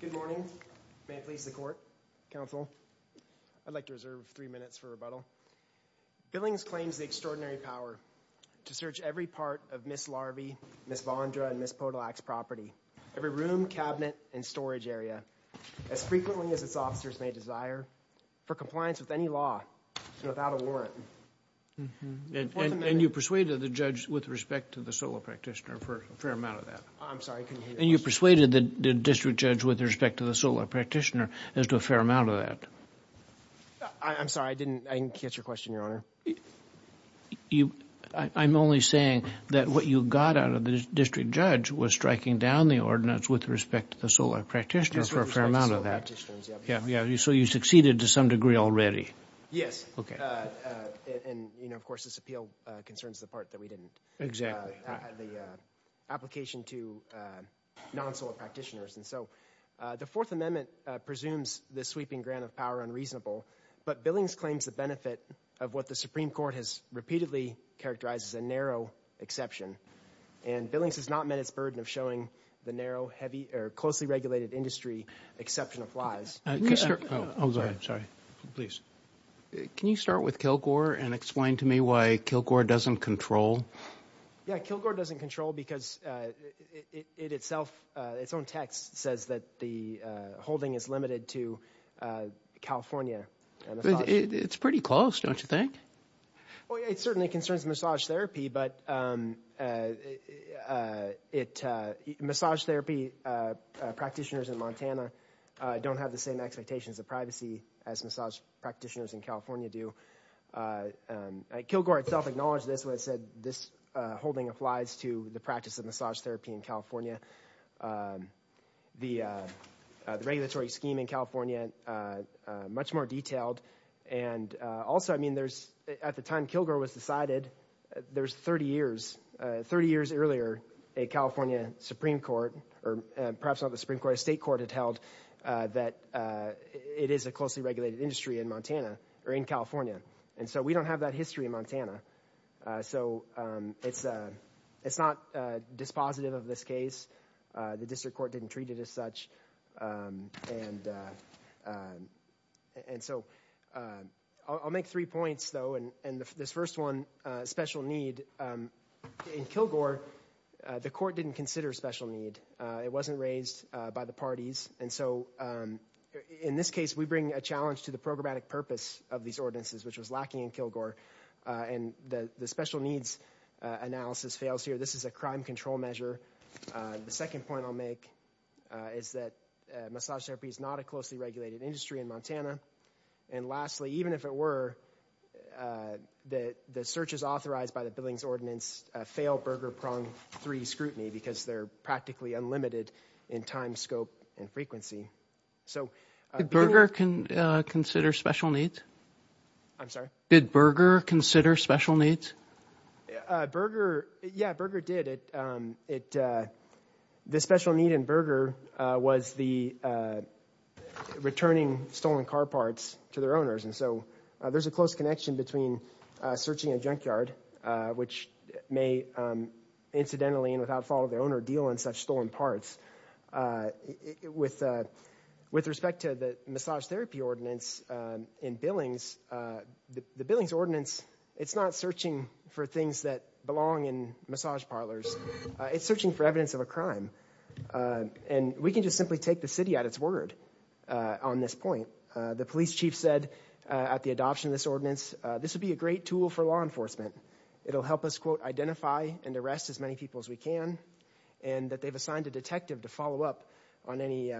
Good morning. May it please the Court, Counsel, I'd like to reserve three minutes for rebuttal. Billings claims the extraordinary power to search every part of Ms. Larvey, Ms. Vondra, and Ms. Podolak's property, every room, cabinet, and storage area, as frequently as its officers may desire, for compliance with any law, without a warrant. And you persuaded the judge with respect to the solo practitioner for a fair amount of that. I'm sorry, I didn't catch your question, Your Honor. You, I'm only saying that what you got out of the district judge was striking down the ordinance with respect to the solo practitioner for a fair amount of that. Yeah, yeah, so you succeeded to some degree already. Yes. Okay. And, you know, of course, this appeal concerns the part that we didn't. Exactly. The application to non-solo practitioners. And so the Fourth Amendment presumes this sweeping grant of power unreasonable, but Billings claims the benefit of what the Supreme Court has repeatedly characterized as a narrow exception. And Billings has not met its burden of showing the narrow, heavy, or closely regulated industry exception applies. Can you start with Kilgore and explain to me why Yeah, Kilgore doesn't control because it itself, its own text says that the holding is limited to California. It's pretty close, don't you think? Well, it certainly concerns massage therapy, but it, massage therapy practitioners in Montana don't have the same expectations of privacy as massage practitioners in California do. Kilgore itself acknowledged this when it said this holding applies to the practice of massage therapy in California. The regulatory scheme in California, much more detailed, and also, I mean, there's, at the time Kilgore was decided, there's 30 years, 30 years earlier, a California Supreme Court, or perhaps not the Supreme Court, a state court, had held that it is a closely regulated industry in Montana, or in California. And so we don't have that history in Montana. So it's a, it's not dispositive of this case. The district court didn't treat it as such. And, and so I'll make three points though, and this first one, special need. In Kilgore, the court didn't consider special need. It In this case, we bring a challenge to the programmatic purpose of these ordinances, which was lacking in Kilgore, and the special needs analysis fails here. This is a crime control measure. The second point I'll make is that massage therapy is not a closely regulated industry in Montana. And lastly, even if it were, that the searches authorized by the Billings Ordinance fail burger prong three scrutiny because they're practically unlimited in time, scope, and frequency. So Did Burger consider special needs? I'm sorry? Did Burger consider special needs? Burger, yeah, Burger did. It, it, the special need in Burger was the returning stolen car parts to their owners. And so there's a close connection between searching a junkyard, which may incidentally and without follow their deal on such stolen parts. With, with respect to the massage therapy ordinance in Billings, the Billings Ordinance, it's not searching for things that belong in massage parlors. It's searching for evidence of a crime. And we can just simply take the city at its word on this point. The police chief said at the adoption of this ordinance, this would be a great tool for law enforcement. It'll help us, quote, identify and arrest as many people as we can and that they've assigned a detective to follow up on any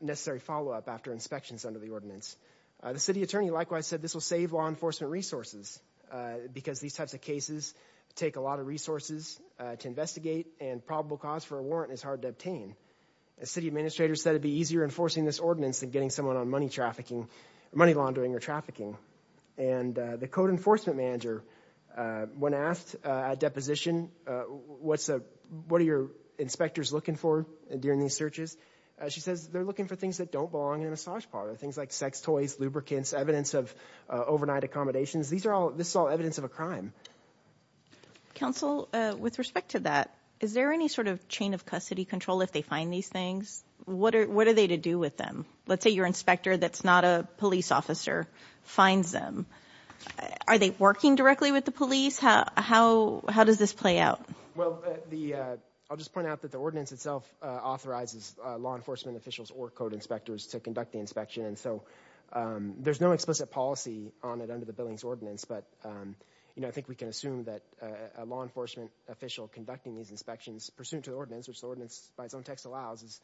necessary follow-up after inspections under the ordinance. The city attorney likewise said this will save law enforcement resources because these types of cases take a lot of resources to investigate and probable cause for a warrant is hard to obtain. The city administrator said it'd be easier enforcing this ordinance than getting someone on money trafficking, money laundering or trafficking. And the code enforcement manager, when asked at deposition, what's a, what are your inspectors looking for during these searches? She says they're looking for things that don't belong in a massage parlor. Things like sex toys, lubricants, evidence of overnight accommodations. These are all, this is all evidence of a crime. Counsel, with respect to that, is there any sort of chain of custody control if they find these things? What are, what are they to do with them? Let's say your inspector that's not a police officer finds them. Are they working directly with the police? How, how, how does this play out? Well, the, I'll just point out that the ordinance itself authorizes law enforcement officials or code inspectors to conduct the inspection and so there's no explicit policy on it under the Billings Ordinance but, you know, I think we can assume that a law enforcement official conducting these inspections pursuant to the ordinance, which the ordinance by its own text allows, is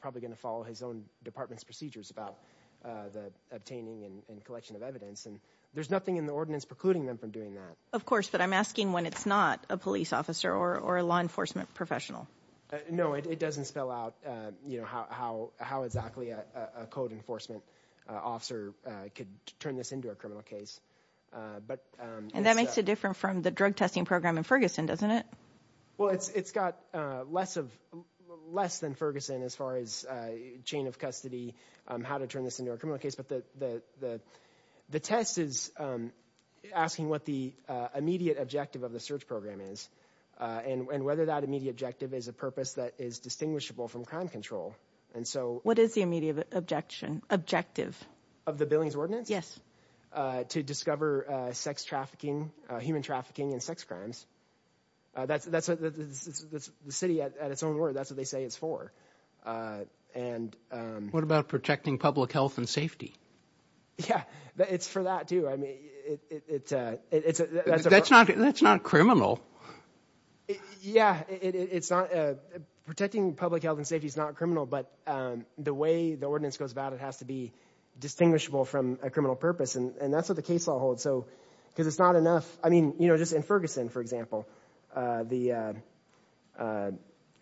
probably going to follow his own department's procedures about the obtaining and collection of evidence and there's nothing in the ordinance precluding them from doing that. Of course, but I'm asking when it's not a police officer or a law enforcement professional. No, it doesn't spell out, you know, how, how, how exactly a code enforcement officer could turn this into a criminal case but... And that makes it different from the drug testing program in Ferguson, doesn't it? Well, it's, it's got less of, less than Ferguson as far as chain of custody, how to turn this into a criminal case, but the, the, the test is asking what the immediate objective of the search program is and whether that immediate objective is a purpose that is distinguishable from crime control and so... What is the immediate objection, objective? Of the Billings Ordinance? Yes. To discover sex trafficking, human trafficking, and sex crimes. That's, that's the city at its own word. That's what they say it's for and... What about protecting public health and safety? Yeah, it's for that too. I mean, it's a... That's not, that's not criminal. Yeah, it's not... Protecting public health and safety is not criminal, but the way the ordinance goes about it has to be distinguishable from a criminal purpose and that's what the case law holds. So, because it's not enough, I mean, you know, just in Ferguson, for example, the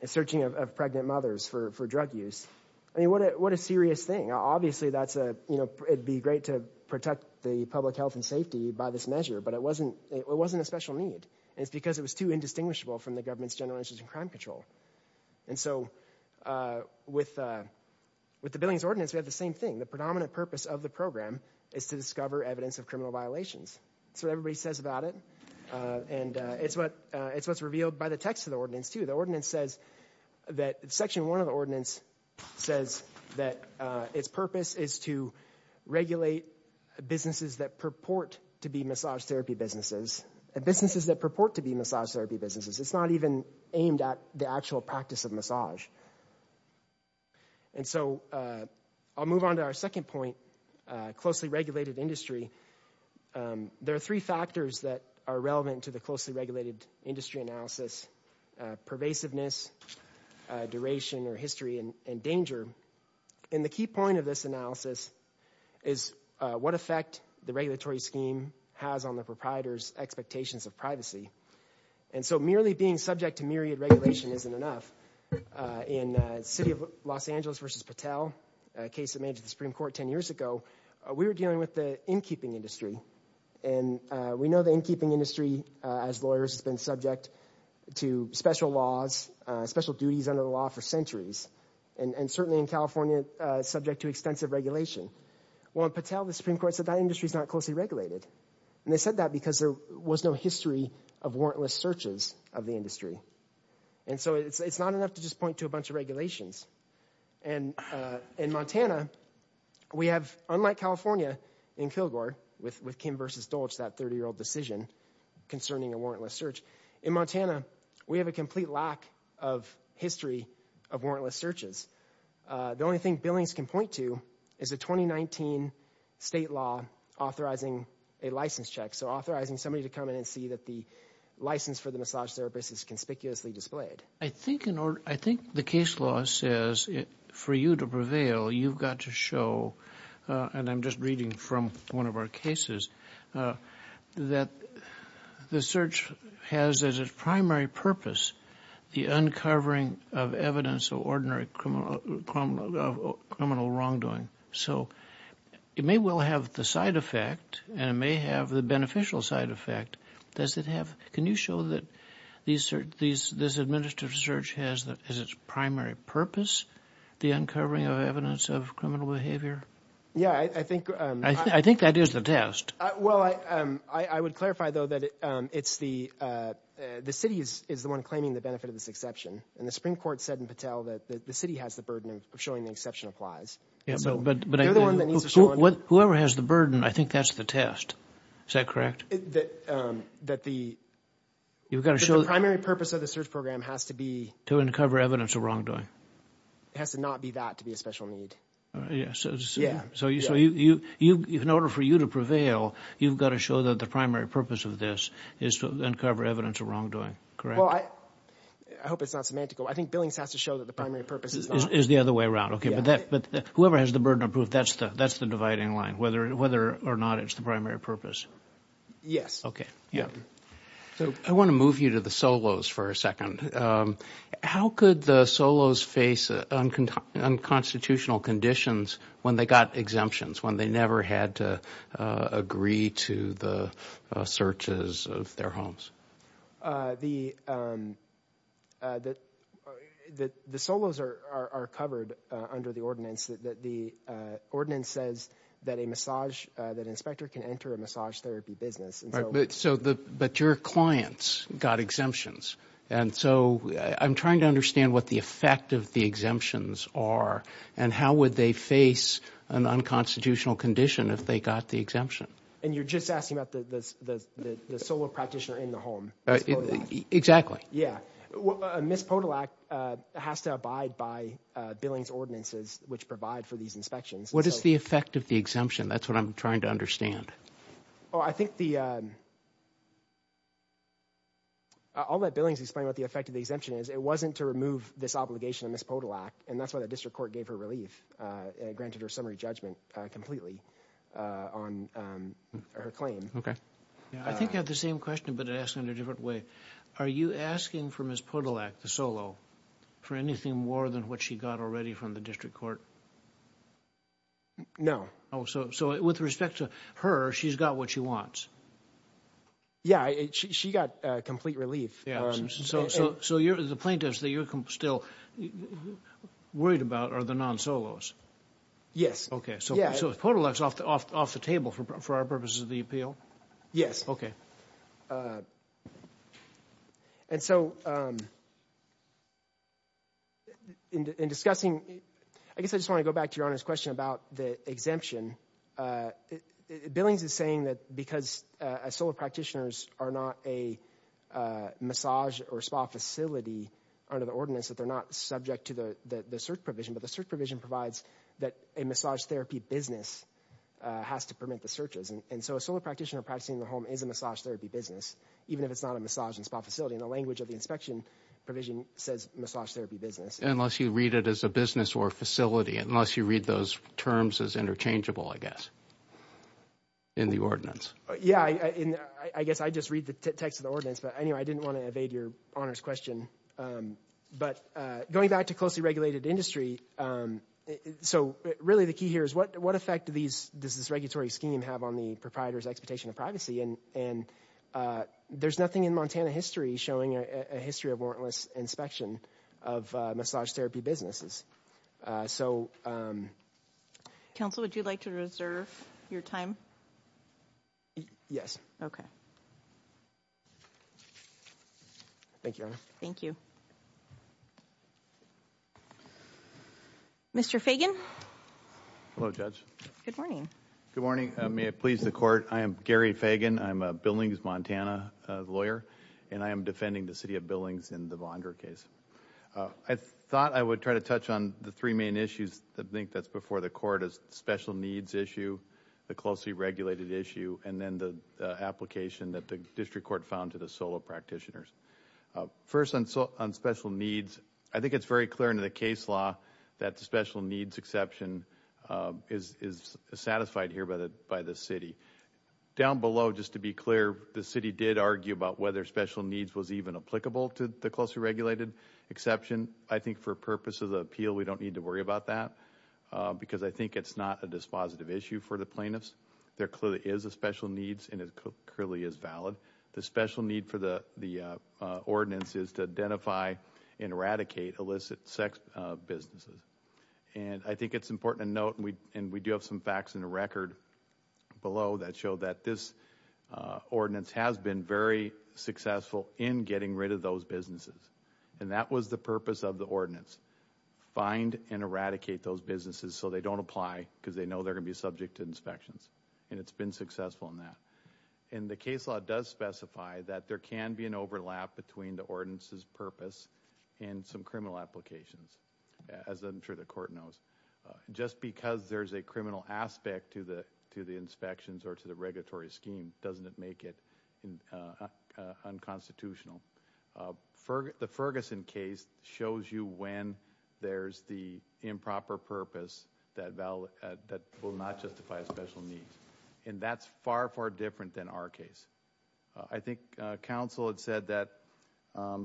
searching of pregnant mothers for, for drug use. I mean, what a, what a serious thing. Obviously, that's a, you know, it'd be great to protect the public health and safety by this measure, but it wasn't, it wasn't a special need. It's because it was too indistinguishable from the government's general interest in crime control. And so, with, with the Billings Ordinance, we have the same thing. The predominant purpose of the program is to discover evidence of criminal violations. That's what everybody says about it, and it's what, it's what's revealed by the text of the ordinance, too. The ordinance says that, Section 1 of the ordinance says that its purpose is to regulate businesses that purport to be massage therapy businesses, and businesses that purport to be massage therapy businesses. It's not even aimed at the actual industry. There are three factors that are relevant to the closely regulated industry analysis. Pervasiveness, duration, or history, and, and danger. And the key point of this analysis is what effect the regulatory scheme has on the proprietors' expectations of privacy. And so, merely being subject to myriad regulation isn't enough. In the city of Los Angeles versus Patel, a case that came to the Supreme Court ten years ago, we were dealing with the in-keeping industry. And we know the in-keeping industry, as lawyers, has been subject to special laws, special duties under the law for centuries, and, and certainly in California, subject to extensive regulation. Well, in Patel, the Supreme Court said that industry's not closely regulated. And they said that because there was no history of warrantless searches of the industry. And so, it's, it's not enough to just point to a bunch of regulations. And, in Montana, we have, unlike California, in Kilgore, with, with Kim versus Dolch, that 30-year-old decision concerning a warrantless search. In Montana, we have a complete lack of history of warrantless searches. The only thing Billings can point to is a 2019 state law authorizing a license check. So, authorizing somebody to come in and see that the license for the massage therapist is conspicuously displayed. I think in order, I think the case law says, for you to prevail, you've got to show, and I'm just reading from one of our cases, that the search has, as its primary purpose, the uncovering of evidence of ordinary criminal, criminal wrongdoing. So, it may well have the side effect, and it may have the beneficial side effect. Does it have, can you show that these, these, this administrative search has, that is its primary purpose, the uncovering of evidence of criminal behavior? Yeah, I think, I think that is the test. Well, I, I would clarify, though, that it's the, the city is, is the one claiming the benefit of this exception. And the Supreme Court said in Patel that the city has the burden of showing the exception applies. Yeah, but, but whoever has the burden, I think that's the test. Is that correct? That, that the, you've got to show, the primary purpose of the search program has to be, to uncover evidence of wrongdoing. It has to not be that to be a special need. Yeah, so you, so you, you, you, in order for you to prevail, you've got to show that the primary purpose of this is to uncover evidence of wrongdoing, correct? Well, I, I hope it's not semantical. I think Billings has to show that the primary purpose is, is the other way around. Okay, but that, but whoever has the burden of proof, that's the, that's the dividing line, whether, whether or not it's the primary purpose. Yes. Okay, yeah. So I want to move you to the Solos for a second. How could the Solos face unconstitutional conditions when they got exemptions, when they never had to agree to the searches of their homes? The, that, that the Solos are, are, are covered under the ordinance that the ordinance says that a massage, that an inspector can enter a massage therapy business. Right, but, so the, but your clients got exemptions, and so I'm trying to understand what the effect of the exemptions are, and how would they face an unconstitutional condition if they got the exemption? And you're just asking about the, the, the, the solo practitioner in the home. Exactly. Yeah. Well, Miss Podolak has to abide by Billings' ordinances, which provide for these inspections. What is the effect of the exemption? That's what I'm trying to understand. Oh, I think the, all that Billings explained what the effect of the exemption is, it wasn't to remove this obligation on Miss Podolak, and that's why the district court gave her relief, granted her summary judgment completely on her claim. Okay. Yeah, I think you have the same question, but it in a different way. Are you asking for Miss Podolak, the solo, for anything more than what she got already from the district court? No. Oh, so, so with respect to her, she's got what she wants. Yeah, she got complete relief. Yeah, so, so, so you're, the plaintiffs that you're still worried about are the non-solos? Yes. Okay, so, so Podolak's off the, off, off the table for, for our purposes of the bill? Yes. Okay. And so, in discussing, I guess I just want to go back to Your Honor's question about the exemption. Billings is saying that because solo practitioners are not a massage or spa facility under the ordinance, that they're not subject to the, the search provision, but the search provision provides that a massage therapy business has to permit the searches, and so a practitioner practicing in the home is a massage therapy business, even if it's not a massage and spa facility, and the language of the inspection provision says massage therapy business. Unless you read it as a business or a facility, unless you read those terms as interchangeable, I guess, in the ordinance. Yeah, I guess I just read the text of the ordinance, but anyway, I didn't want to evade Your Honor's question, but going back to closely regulated industry, so really the key here is what, what effect do these, does this regulatory scheme have on the proprietor's expectation of privacy, and, and there's nothing in Montana history showing a history of warrantless inspection of massage therapy businesses, so. Counsel, would you like to reserve your time? Yes. Okay. Thank you, Your Honor. Thank you. Mr. Fagan. Hello, Judge. Good morning. Good morning. May it please the Court, I am Gary Fagan, I'm a Billings, Montana lawyer, and I am defending the City of Billings in the Vondra case. I thought I would try to touch on the three main issues that I think that's before the Court, is the special needs issue, the closely regulated issue, and then the application that the District Court found to the practitioners. First, on special needs, I think it's very clear in the case law that the special needs exception is satisfied here by the, by the City. Down below, just to be clear, the City did argue about whether special needs was even applicable to the closely regulated exception. I think for purposes of the appeal, we don't need to worry about that, because I think it's not a dispositive issue for the plaintiffs. There clearly is a special needs, and it clearly is valid. The special need for the, the ordinance is to identify and eradicate illicit sex businesses. And I think it's important to note, and we, and we do have some facts in the record below that show that this ordinance has been very successful in getting rid of those businesses. And that was the purpose of the ordinance. Find and eradicate those businesses so they don't apply, because they know they're gonna be subject to inspections. And it's been successful in that. And the case law does specify that there can be an overlap between the ordinance's purpose and some criminal applications, as I'm sure the court knows. Just because there's a criminal aspect to the, to the inspections, or to the regulatory scheme, doesn't it make it unconstitutional. The Ferguson case shows you when there's the improper purpose that will not justify a special need. And that's far, far different than our case. I think counsel had said that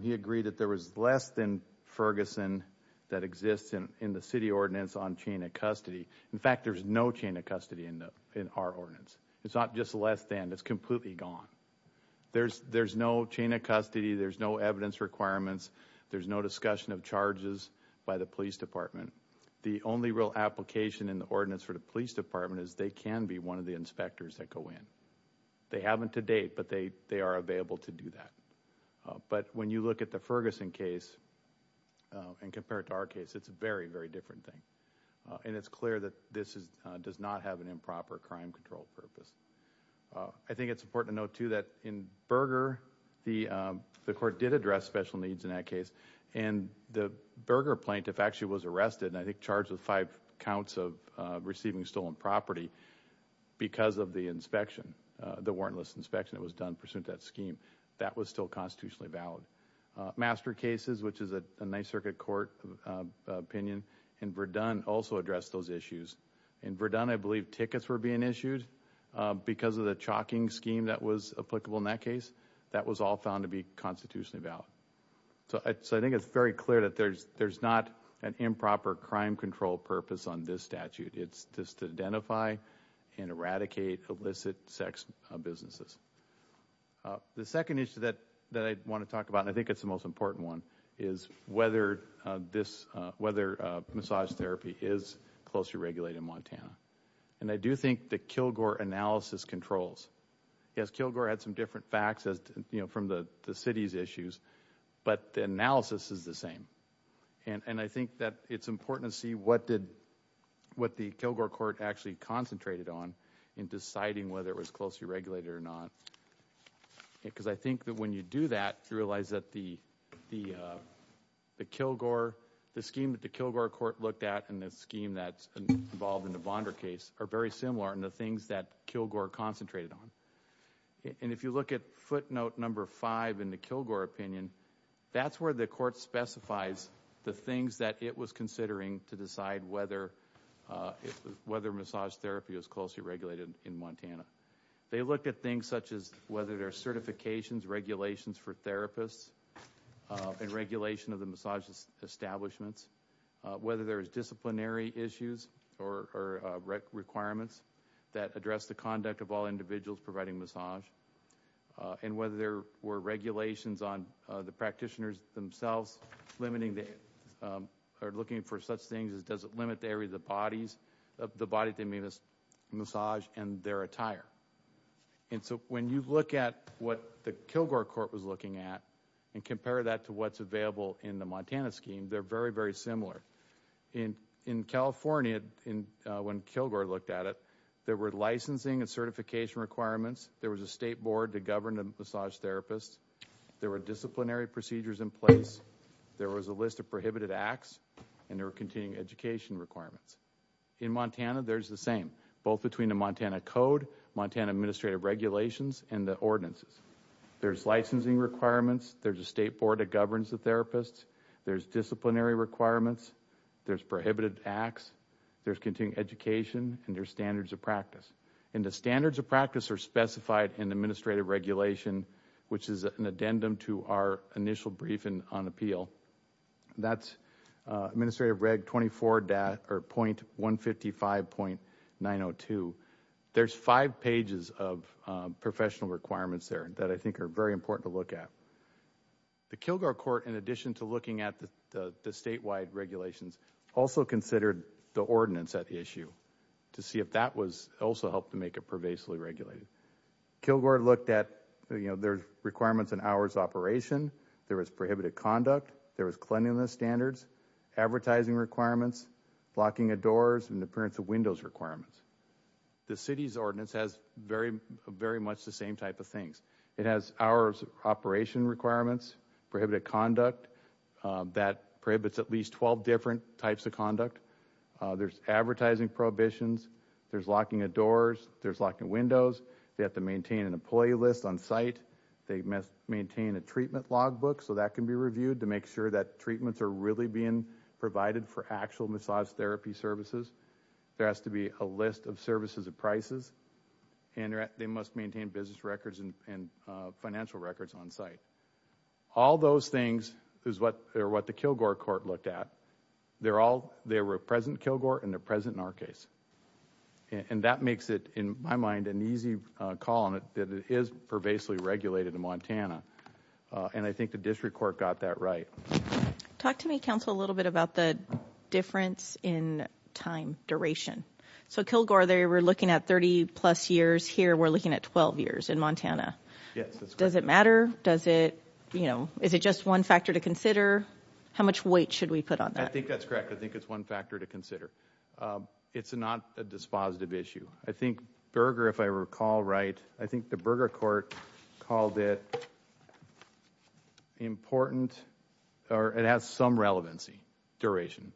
he agreed that there was less than Ferguson that exists in, in the city ordinance on chain of custody. In fact, there's no chain of custody in the, in our ordinance. It's not just less than, it's completely gone. There's, there's no chain of custody, there's no evidence requirements, there's no discussion of charges by the Police Department. The only real application in the ordinance for the Police Department is they can be one of the inspectors that go in. They haven't to date, but they, they are available to do that. But when you look at the Ferguson case, and compare it to our case, it's a very, very different thing. And it's clear that this is, does not have an improper crime control purpose. I think it's important to note too that in Berger, the, the court did address special needs in that case. And the Berger plaintiff actually was arrested, and I think charged with five counts of receiving stolen property, because of the inspection, the warrantless inspection that was done pursuant to that scheme. That was still constitutionally valid. Master cases, which is a Ninth Circuit Court opinion, in Verdun also addressed those issues. In Verdun, I believe tickets were being issued because of the chalking scheme that was applicable in that case. That was all found to be constitutionally valid. So I think it's very clear that there's, there's not an improper crime control purpose on this statute. It's just to identify and eradicate illicit sex businesses. The second issue that, that I want to talk about, and I think it's the most important one, is whether this, whether massage therapy is closely regulated in Montana. And I do think the Kilgore analysis controls. Yes, but the analysis is the same. And, and I think that it's important to see what did, what the Kilgore court actually concentrated on, in deciding whether it was closely regulated or not. Because I think that when you do that, you realize that the, the, the Kilgore, the scheme that the Kilgore court looked at, and the scheme that's involved in the Bonder case, are very similar in the things that Kilgore concentrated on. And if you look at footnote number five in the Kilgore opinion, that's where the court specifies the things that it was considering to decide whether, whether massage therapy was closely regulated in Montana. They looked at things such as whether there are certifications, regulations for therapists, and regulation of the massage establishments, whether there is disciplinary issues or requirements that address the conduct of individuals providing massage, and whether there were regulations on the practitioners themselves limiting the, or looking for such things as does it limit the area of the bodies, of the body they may miss massage, and their attire. And so when you look at what the Kilgore court was looking at, and compare that to what's available in the Montana scheme, they're very, very similar. In, in California, in when Kilgore looked at it, there were licensing and certification requirements, there was a state board to govern the massage therapists, there were disciplinary procedures in place, there was a list of prohibited acts, and there were continuing education requirements. In Montana, there's the same, both between the Montana Code, Montana Administrative Regulations, and the ordinances. There's licensing requirements, there's a state board that governs the therapists, there's disciplinary requirements, there's prohibited acts, there's continuing education, and there's standards of practice. And the standards of practice are specified in administrative regulation, which is an addendum to our initial briefing on appeal. That's Administrative Reg 24.155.902. There's five pages of professional requirements there that I think are very important to look at. The Kilgore court, in addition to looking at the statewide regulations, also considered the ordinance at issue, to see if that was also helped to make it pervasively regulated. Kilgore looked at, you know, there's requirements in hours operation, there was prohibited conduct, there was cleanliness standards, advertising requirements, blocking of doors, and appearance of windows requirements. The city's ordinance has very, very much the same type of things. It has hours operation requirements, prohibited conduct, that prohibits at least 12 different types of conduct, there's advertising prohibitions, there's locking of doors, there's locking windows, they have to maintain an employee list on site, they must maintain a treatment logbook, so that can be reviewed to make sure that treatments are really being provided for actual massage therapy services. There has to be a list of services and prices, and they must maintain business records and financial records on site. All those things is what the Kilgore court looked at. They're all, they were present in Kilgore and they're present in our case. And that makes it, in my mind, an easy call on it that it is pervasively regulated in Montana, and I think the district court got that right. Talk to me, counsel, a little bit about the difference in time duration. So Kilgore, they were looking at 30 plus years, here we're looking at 12 years in Montana. Does it matter? Does it, you know, is it just one factor to consider? How much weight should we put on that? I think that's correct. I think it's one factor to consider. It's not a dispositive issue. I think Berger, if I recall right, I think the Berger court called it important or it has some relevancy, duration.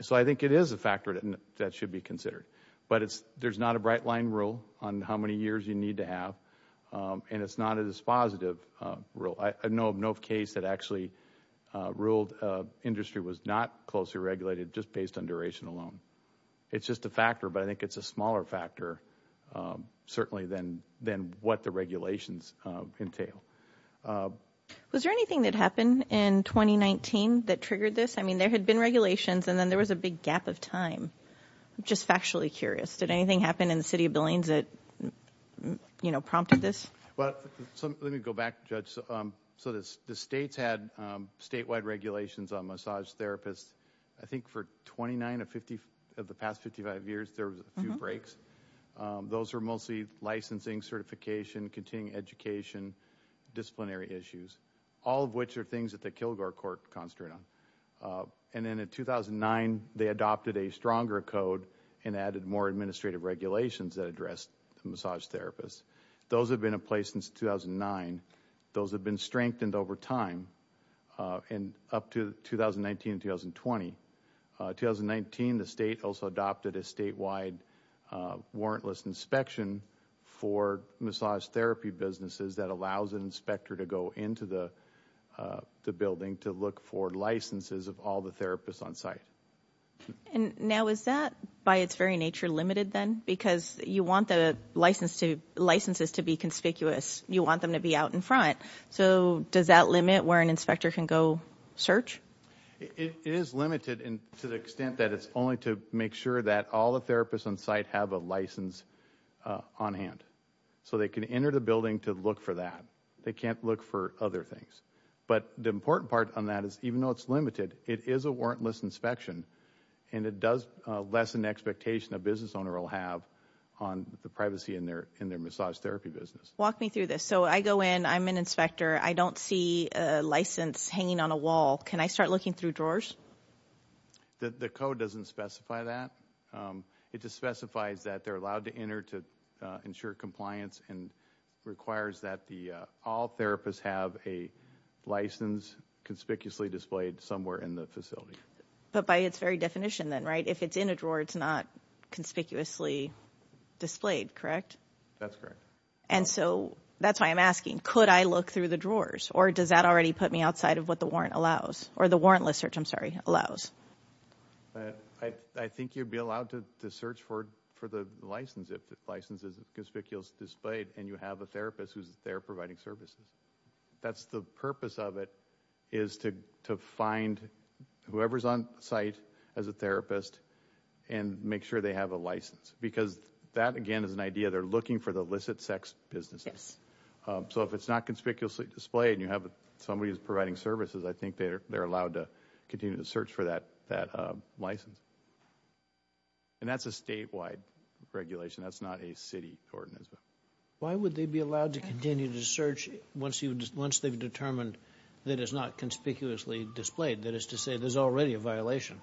So I think it is a factor that should be considered. But it's, there's not a bright-line rule on how many years you need to have, and it's not a dispositive rule. I know of no case that actually ruled industry was not closely regulated just based on duration alone. It's just a factor, but I think it's a smaller factor, certainly, than what the regulations entail. Was there anything that happened in 2019 that triggered this? I mean, there had been regulations and then there was a big gap of time. I'm just factually curious. Did anything happen in the city of Billings that, you know, prompted this? Well, let me go back, Judge. So the states had statewide regulations on massage therapists. I think for 29 of 50 of the past 55 years, there was a few breaks. Those were mostly licensing, certification, continuing education, disciplinary issues, all of which are things that the Kilgore court concentrate on. And then in 2009, they adopted a stronger code and added more administrative regulations that addressed the massage therapists. Those have been in place since 2009. Those have been over time and up to 2019 and 2020. In 2019, the state also adopted a statewide warrantless inspection for massage therapy businesses that allows an inspector to go into the building to look for licenses of all the therapists on site. And now is that, by its very nature, limited then? Because you want the licenses to be conspicuous. You want them to be out in front. So does that limit where an inspector can go search? It is limited to the extent that it's only to make sure that all the therapists on site have a license on hand. So they can enter the building to look for that. They can't look for other things. But the important part on that is, even though it's limited, it is a warrantless inspection and it does lessen the expectation a business owner will have on the privacy in their in their massage therapy business. Walk I don't see a license hanging on a wall. Can I start looking through drawers? The code doesn't specify that. It just specifies that they're allowed to enter to ensure compliance and requires that all therapists have a license conspicuously displayed somewhere in the facility. But by its very definition then, right? If it's in a drawer, it's not conspicuously displayed, correct? That's correct. And so that's why I'm asking, could I look through the drawers? Or does that already put me outside of what the warrant allows? Or the warrantless search, I'm sorry, allows? I think you'd be allowed to search for for the license if the license is conspicuous displayed and you have a therapist who's there providing services. That's the purpose of it, is to find whoever's on site as a therapist and make sure they have a license. Because that again is an idea. They're looking for the illicit sex businesses. So if it's not conspicuously displayed and you have somebody who's providing services, I think they're they're allowed to continue to search for that that license. And that's a statewide regulation. That's not a city ordinance. Why would they be allowed to continue to search once they've determined that it's not conspicuously displayed? That is to say there's already a violation.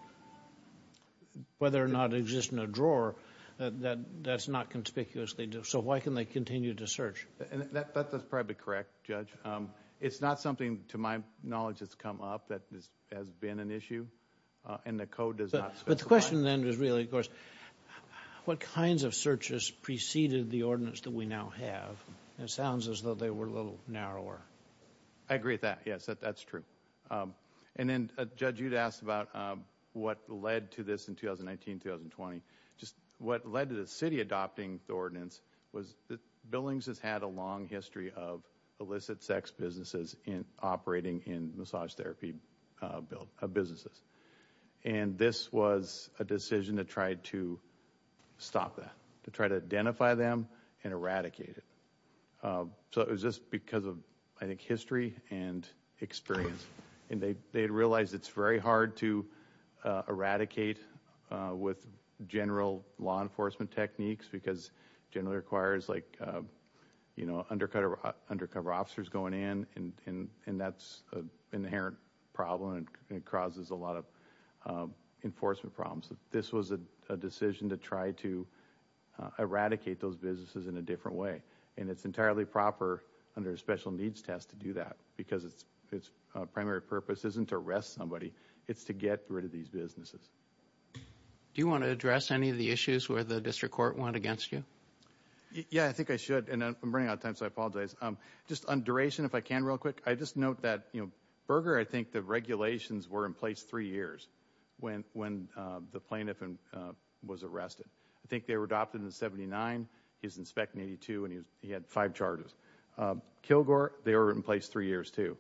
Whether or not it exists in a drawer, that's not conspicuously. So why can they continue to search? That's probably correct, Judge. It's not something, to my knowledge, that's come up that has been an issue. And the code does not specify. But the question then is really, of course, what kinds of searches preceded the ordinance that we now have? It sounds as though they were a little narrower. I agree with that. Yes, that's true. And then, Judge, you'd asked about what led to this in 2019-2020. Just what led to the city adopting the ordinance was that Billings has had a long history of illicit sex businesses in operating in massage therapy businesses. And this was a decision to try to stop that. To try to identify them and eradicate it. So it was just because of, I think, history and experience. And they realized it's very hard to eradicate with general law enforcement techniques because it generally requires, like, you know, undercover officers going in. And that's an inherent problem and it causes a lot of enforcement problems. This was a decision to try to eradicate those businesses in a different way. And it's entirely proper under a special needs test to do that because its primary purpose isn't to arrest somebody, it's to get rid of these businesses. Do you want to address any of the issues where the District Court went against you? Yeah, I think I should. And I'm running out of time, so I apologize. Just on duration, if I can real quick, I just note that, you know, Berger, I think the regulations were in place three years when the plaintiff was arrested. I think they were adopted in 1979. He's in spec 82 and he had five charges. Kilgore, they were in place three years, too.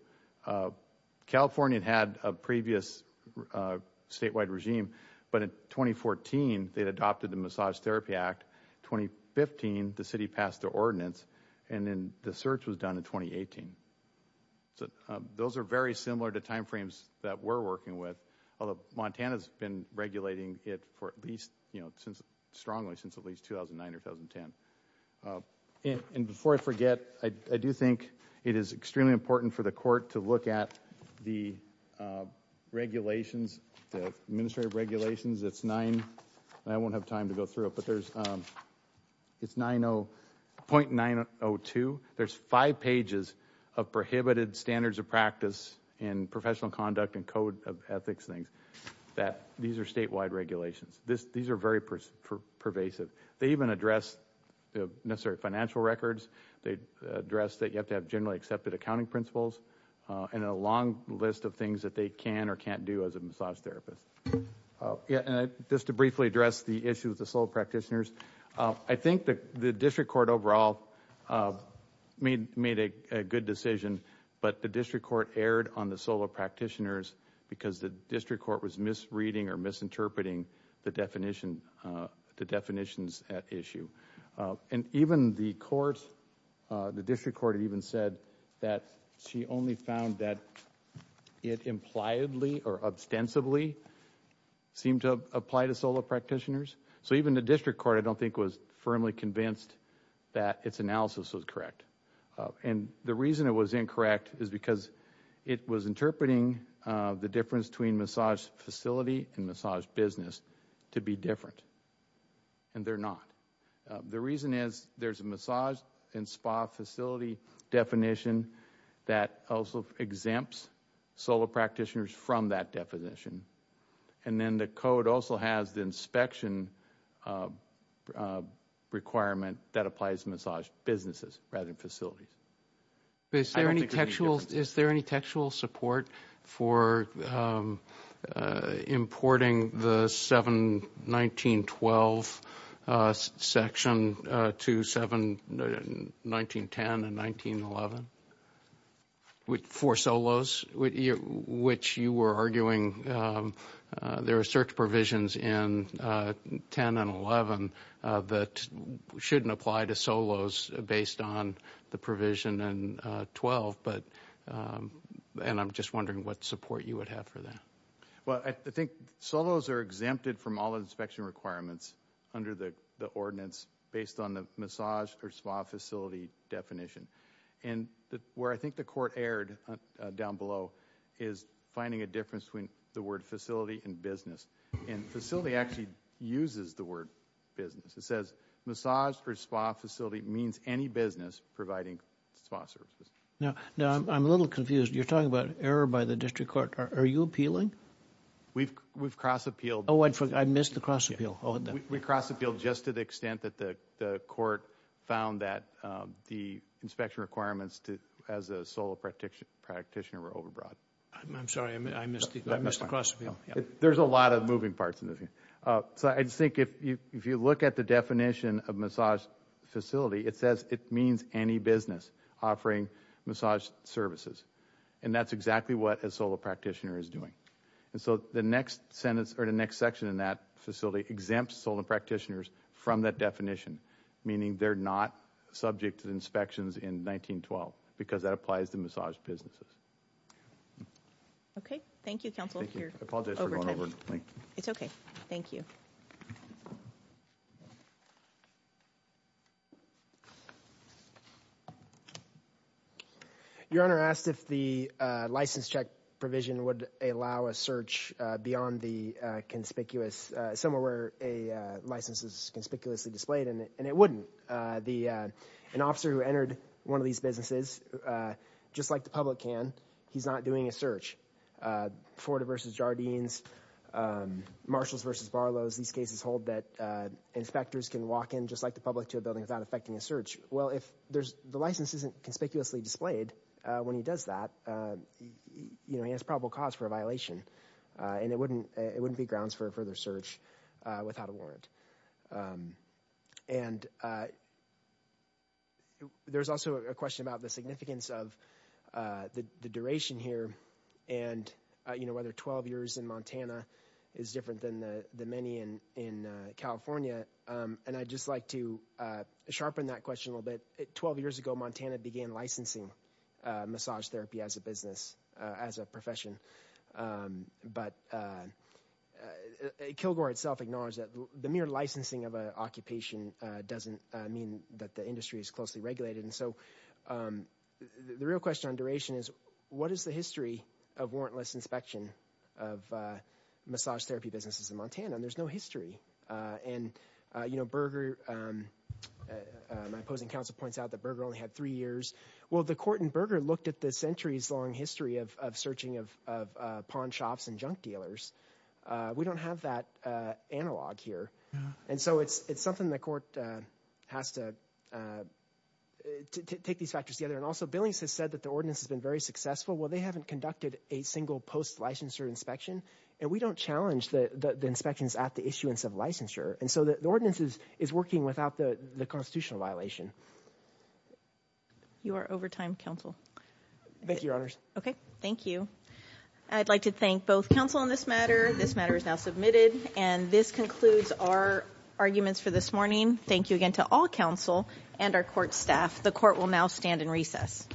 California had a previous statewide regime, but in 2014 they'd adopted the Massage Therapy Act. 2015, the city passed the ordinance and then the search was done in 2018. So those are very similar to timeframes that we're working with, although Montana's been regulating it for at least, you know, nine or ten. And before I forget, I do think it is extremely important for the court to look at the regulations, the administrative regulations. It's nine, I won't have time to go through it, but there's, it's 90.902. There's five pages of prohibited standards of practice in professional conduct and code of ethics things that, these are statewide regulations. These are very pervasive. They even address the necessary financial records. They address that you have to have generally accepted accounting principles and a long list of things that they can or can't do as a massage therapist. Yeah, and just to briefly address the issue with the solo practitioners, I think that the district court overall made a good decision, but the district court erred on the solo practitioners because the district court was misreading or misinterpreting the definition, the definitions at issue. And even the court, the district court even said that she only found that it impliedly or ostensibly seemed to apply to solo practitioners. So even the district court, I don't think, was firmly convinced that its analysis was correct. And the reason it was incorrect is because it was interpreting the difference between massage facility and massage business to be different. And they're not. The reason is there's a massage and spa facility definition that also exempts solo practitioners from that definition. And then the code also has the inspection requirement that applies to massage businesses rather than facilities. Is there any textual support for importing the 7-19-12 section to 7-19-10 and 19-11 for solos, which you were arguing there are certain provisions in 10 and 11 that shouldn't apply to solos based on the provision in 12. And I'm just wondering what support you would have for that. Well, I think solos are exempted from all inspection requirements under the ordinance based on the massage or spa facility definition. And where I think the court erred down below is finding a difference between the word facility and business. And facility actually uses the word business. It says massage or spa facility means any business providing spa services. Now, I'm a little confused. You're talking about error by the district court. Are you appealing? We've cross-appealed. Oh, I missed the cross-appeal. We cross-appealed just to the extent that the court found that the inspection requirements as a solo practitioner were overbroad. I'm sorry, I missed the cross-appeal. There's a lot of moving parts in this. So I just think if you look at the definition of massage facility, it says it means any business offering massage services. And that's exactly what a solo practitioner is doing. And so the next sentence or the next section in that facility exempts solo practitioners from that definition, meaning they're not subject to inspections in 19-12 because that applies to massage businesses. Okay. Thank you, counsel. It's okay. Thank you. Your Honor, I asked if the license check provision would allow a search beyond the conspicuous, somewhere where a license is conspicuously displayed, and it wouldn't. An officer who entered one of these businesses, just like the public can, he's not doing a search. Florida v. Jardines, Marshalls v. Barlows, these cases hold that inspectors can walk in, just like the public, to a building without affecting a search. Well, if the license isn't conspicuously displayed when he does that, you know, he has probable cause for a violation, and it wouldn't be grounds for a further search without a warrant. And there's also a question about the significance of the duration here, and, you know, whether 12 years in Montana is different than the many in California. And I'd just like to sharpen that question a little bit. Twelve years ago, Montana began licensing massage therapy as a business, as a the mere licensing of an occupation doesn't mean that the industry is closely regulated. And so the real question on duration is, what is the history of warrantless inspection of massage therapy businesses in Montana? And there's no history. And, you know, Berger, my opposing counsel points out that Berger only had three years. Well, the court in Berger looked at the centuries-long history of searching of pawn shops and junk dealers. We don't have that analog here. And so it's something the court has to take these factors together. And also Billings has said that the ordinance has been very successful. Well, they haven't conducted a single post-licensure inspection, and we don't challenge the inspections at the issuance of licensure. And so the ordinance is working without the constitutional violation. You are over time, counsel. Thank you, Your Honors. Okay, thank you. I'd like to thank both counsel on this matter. This matter is now submitted. And this concludes our arguments for this morning. Thank you again to all counsel and our court staff. The court will now stand in recess.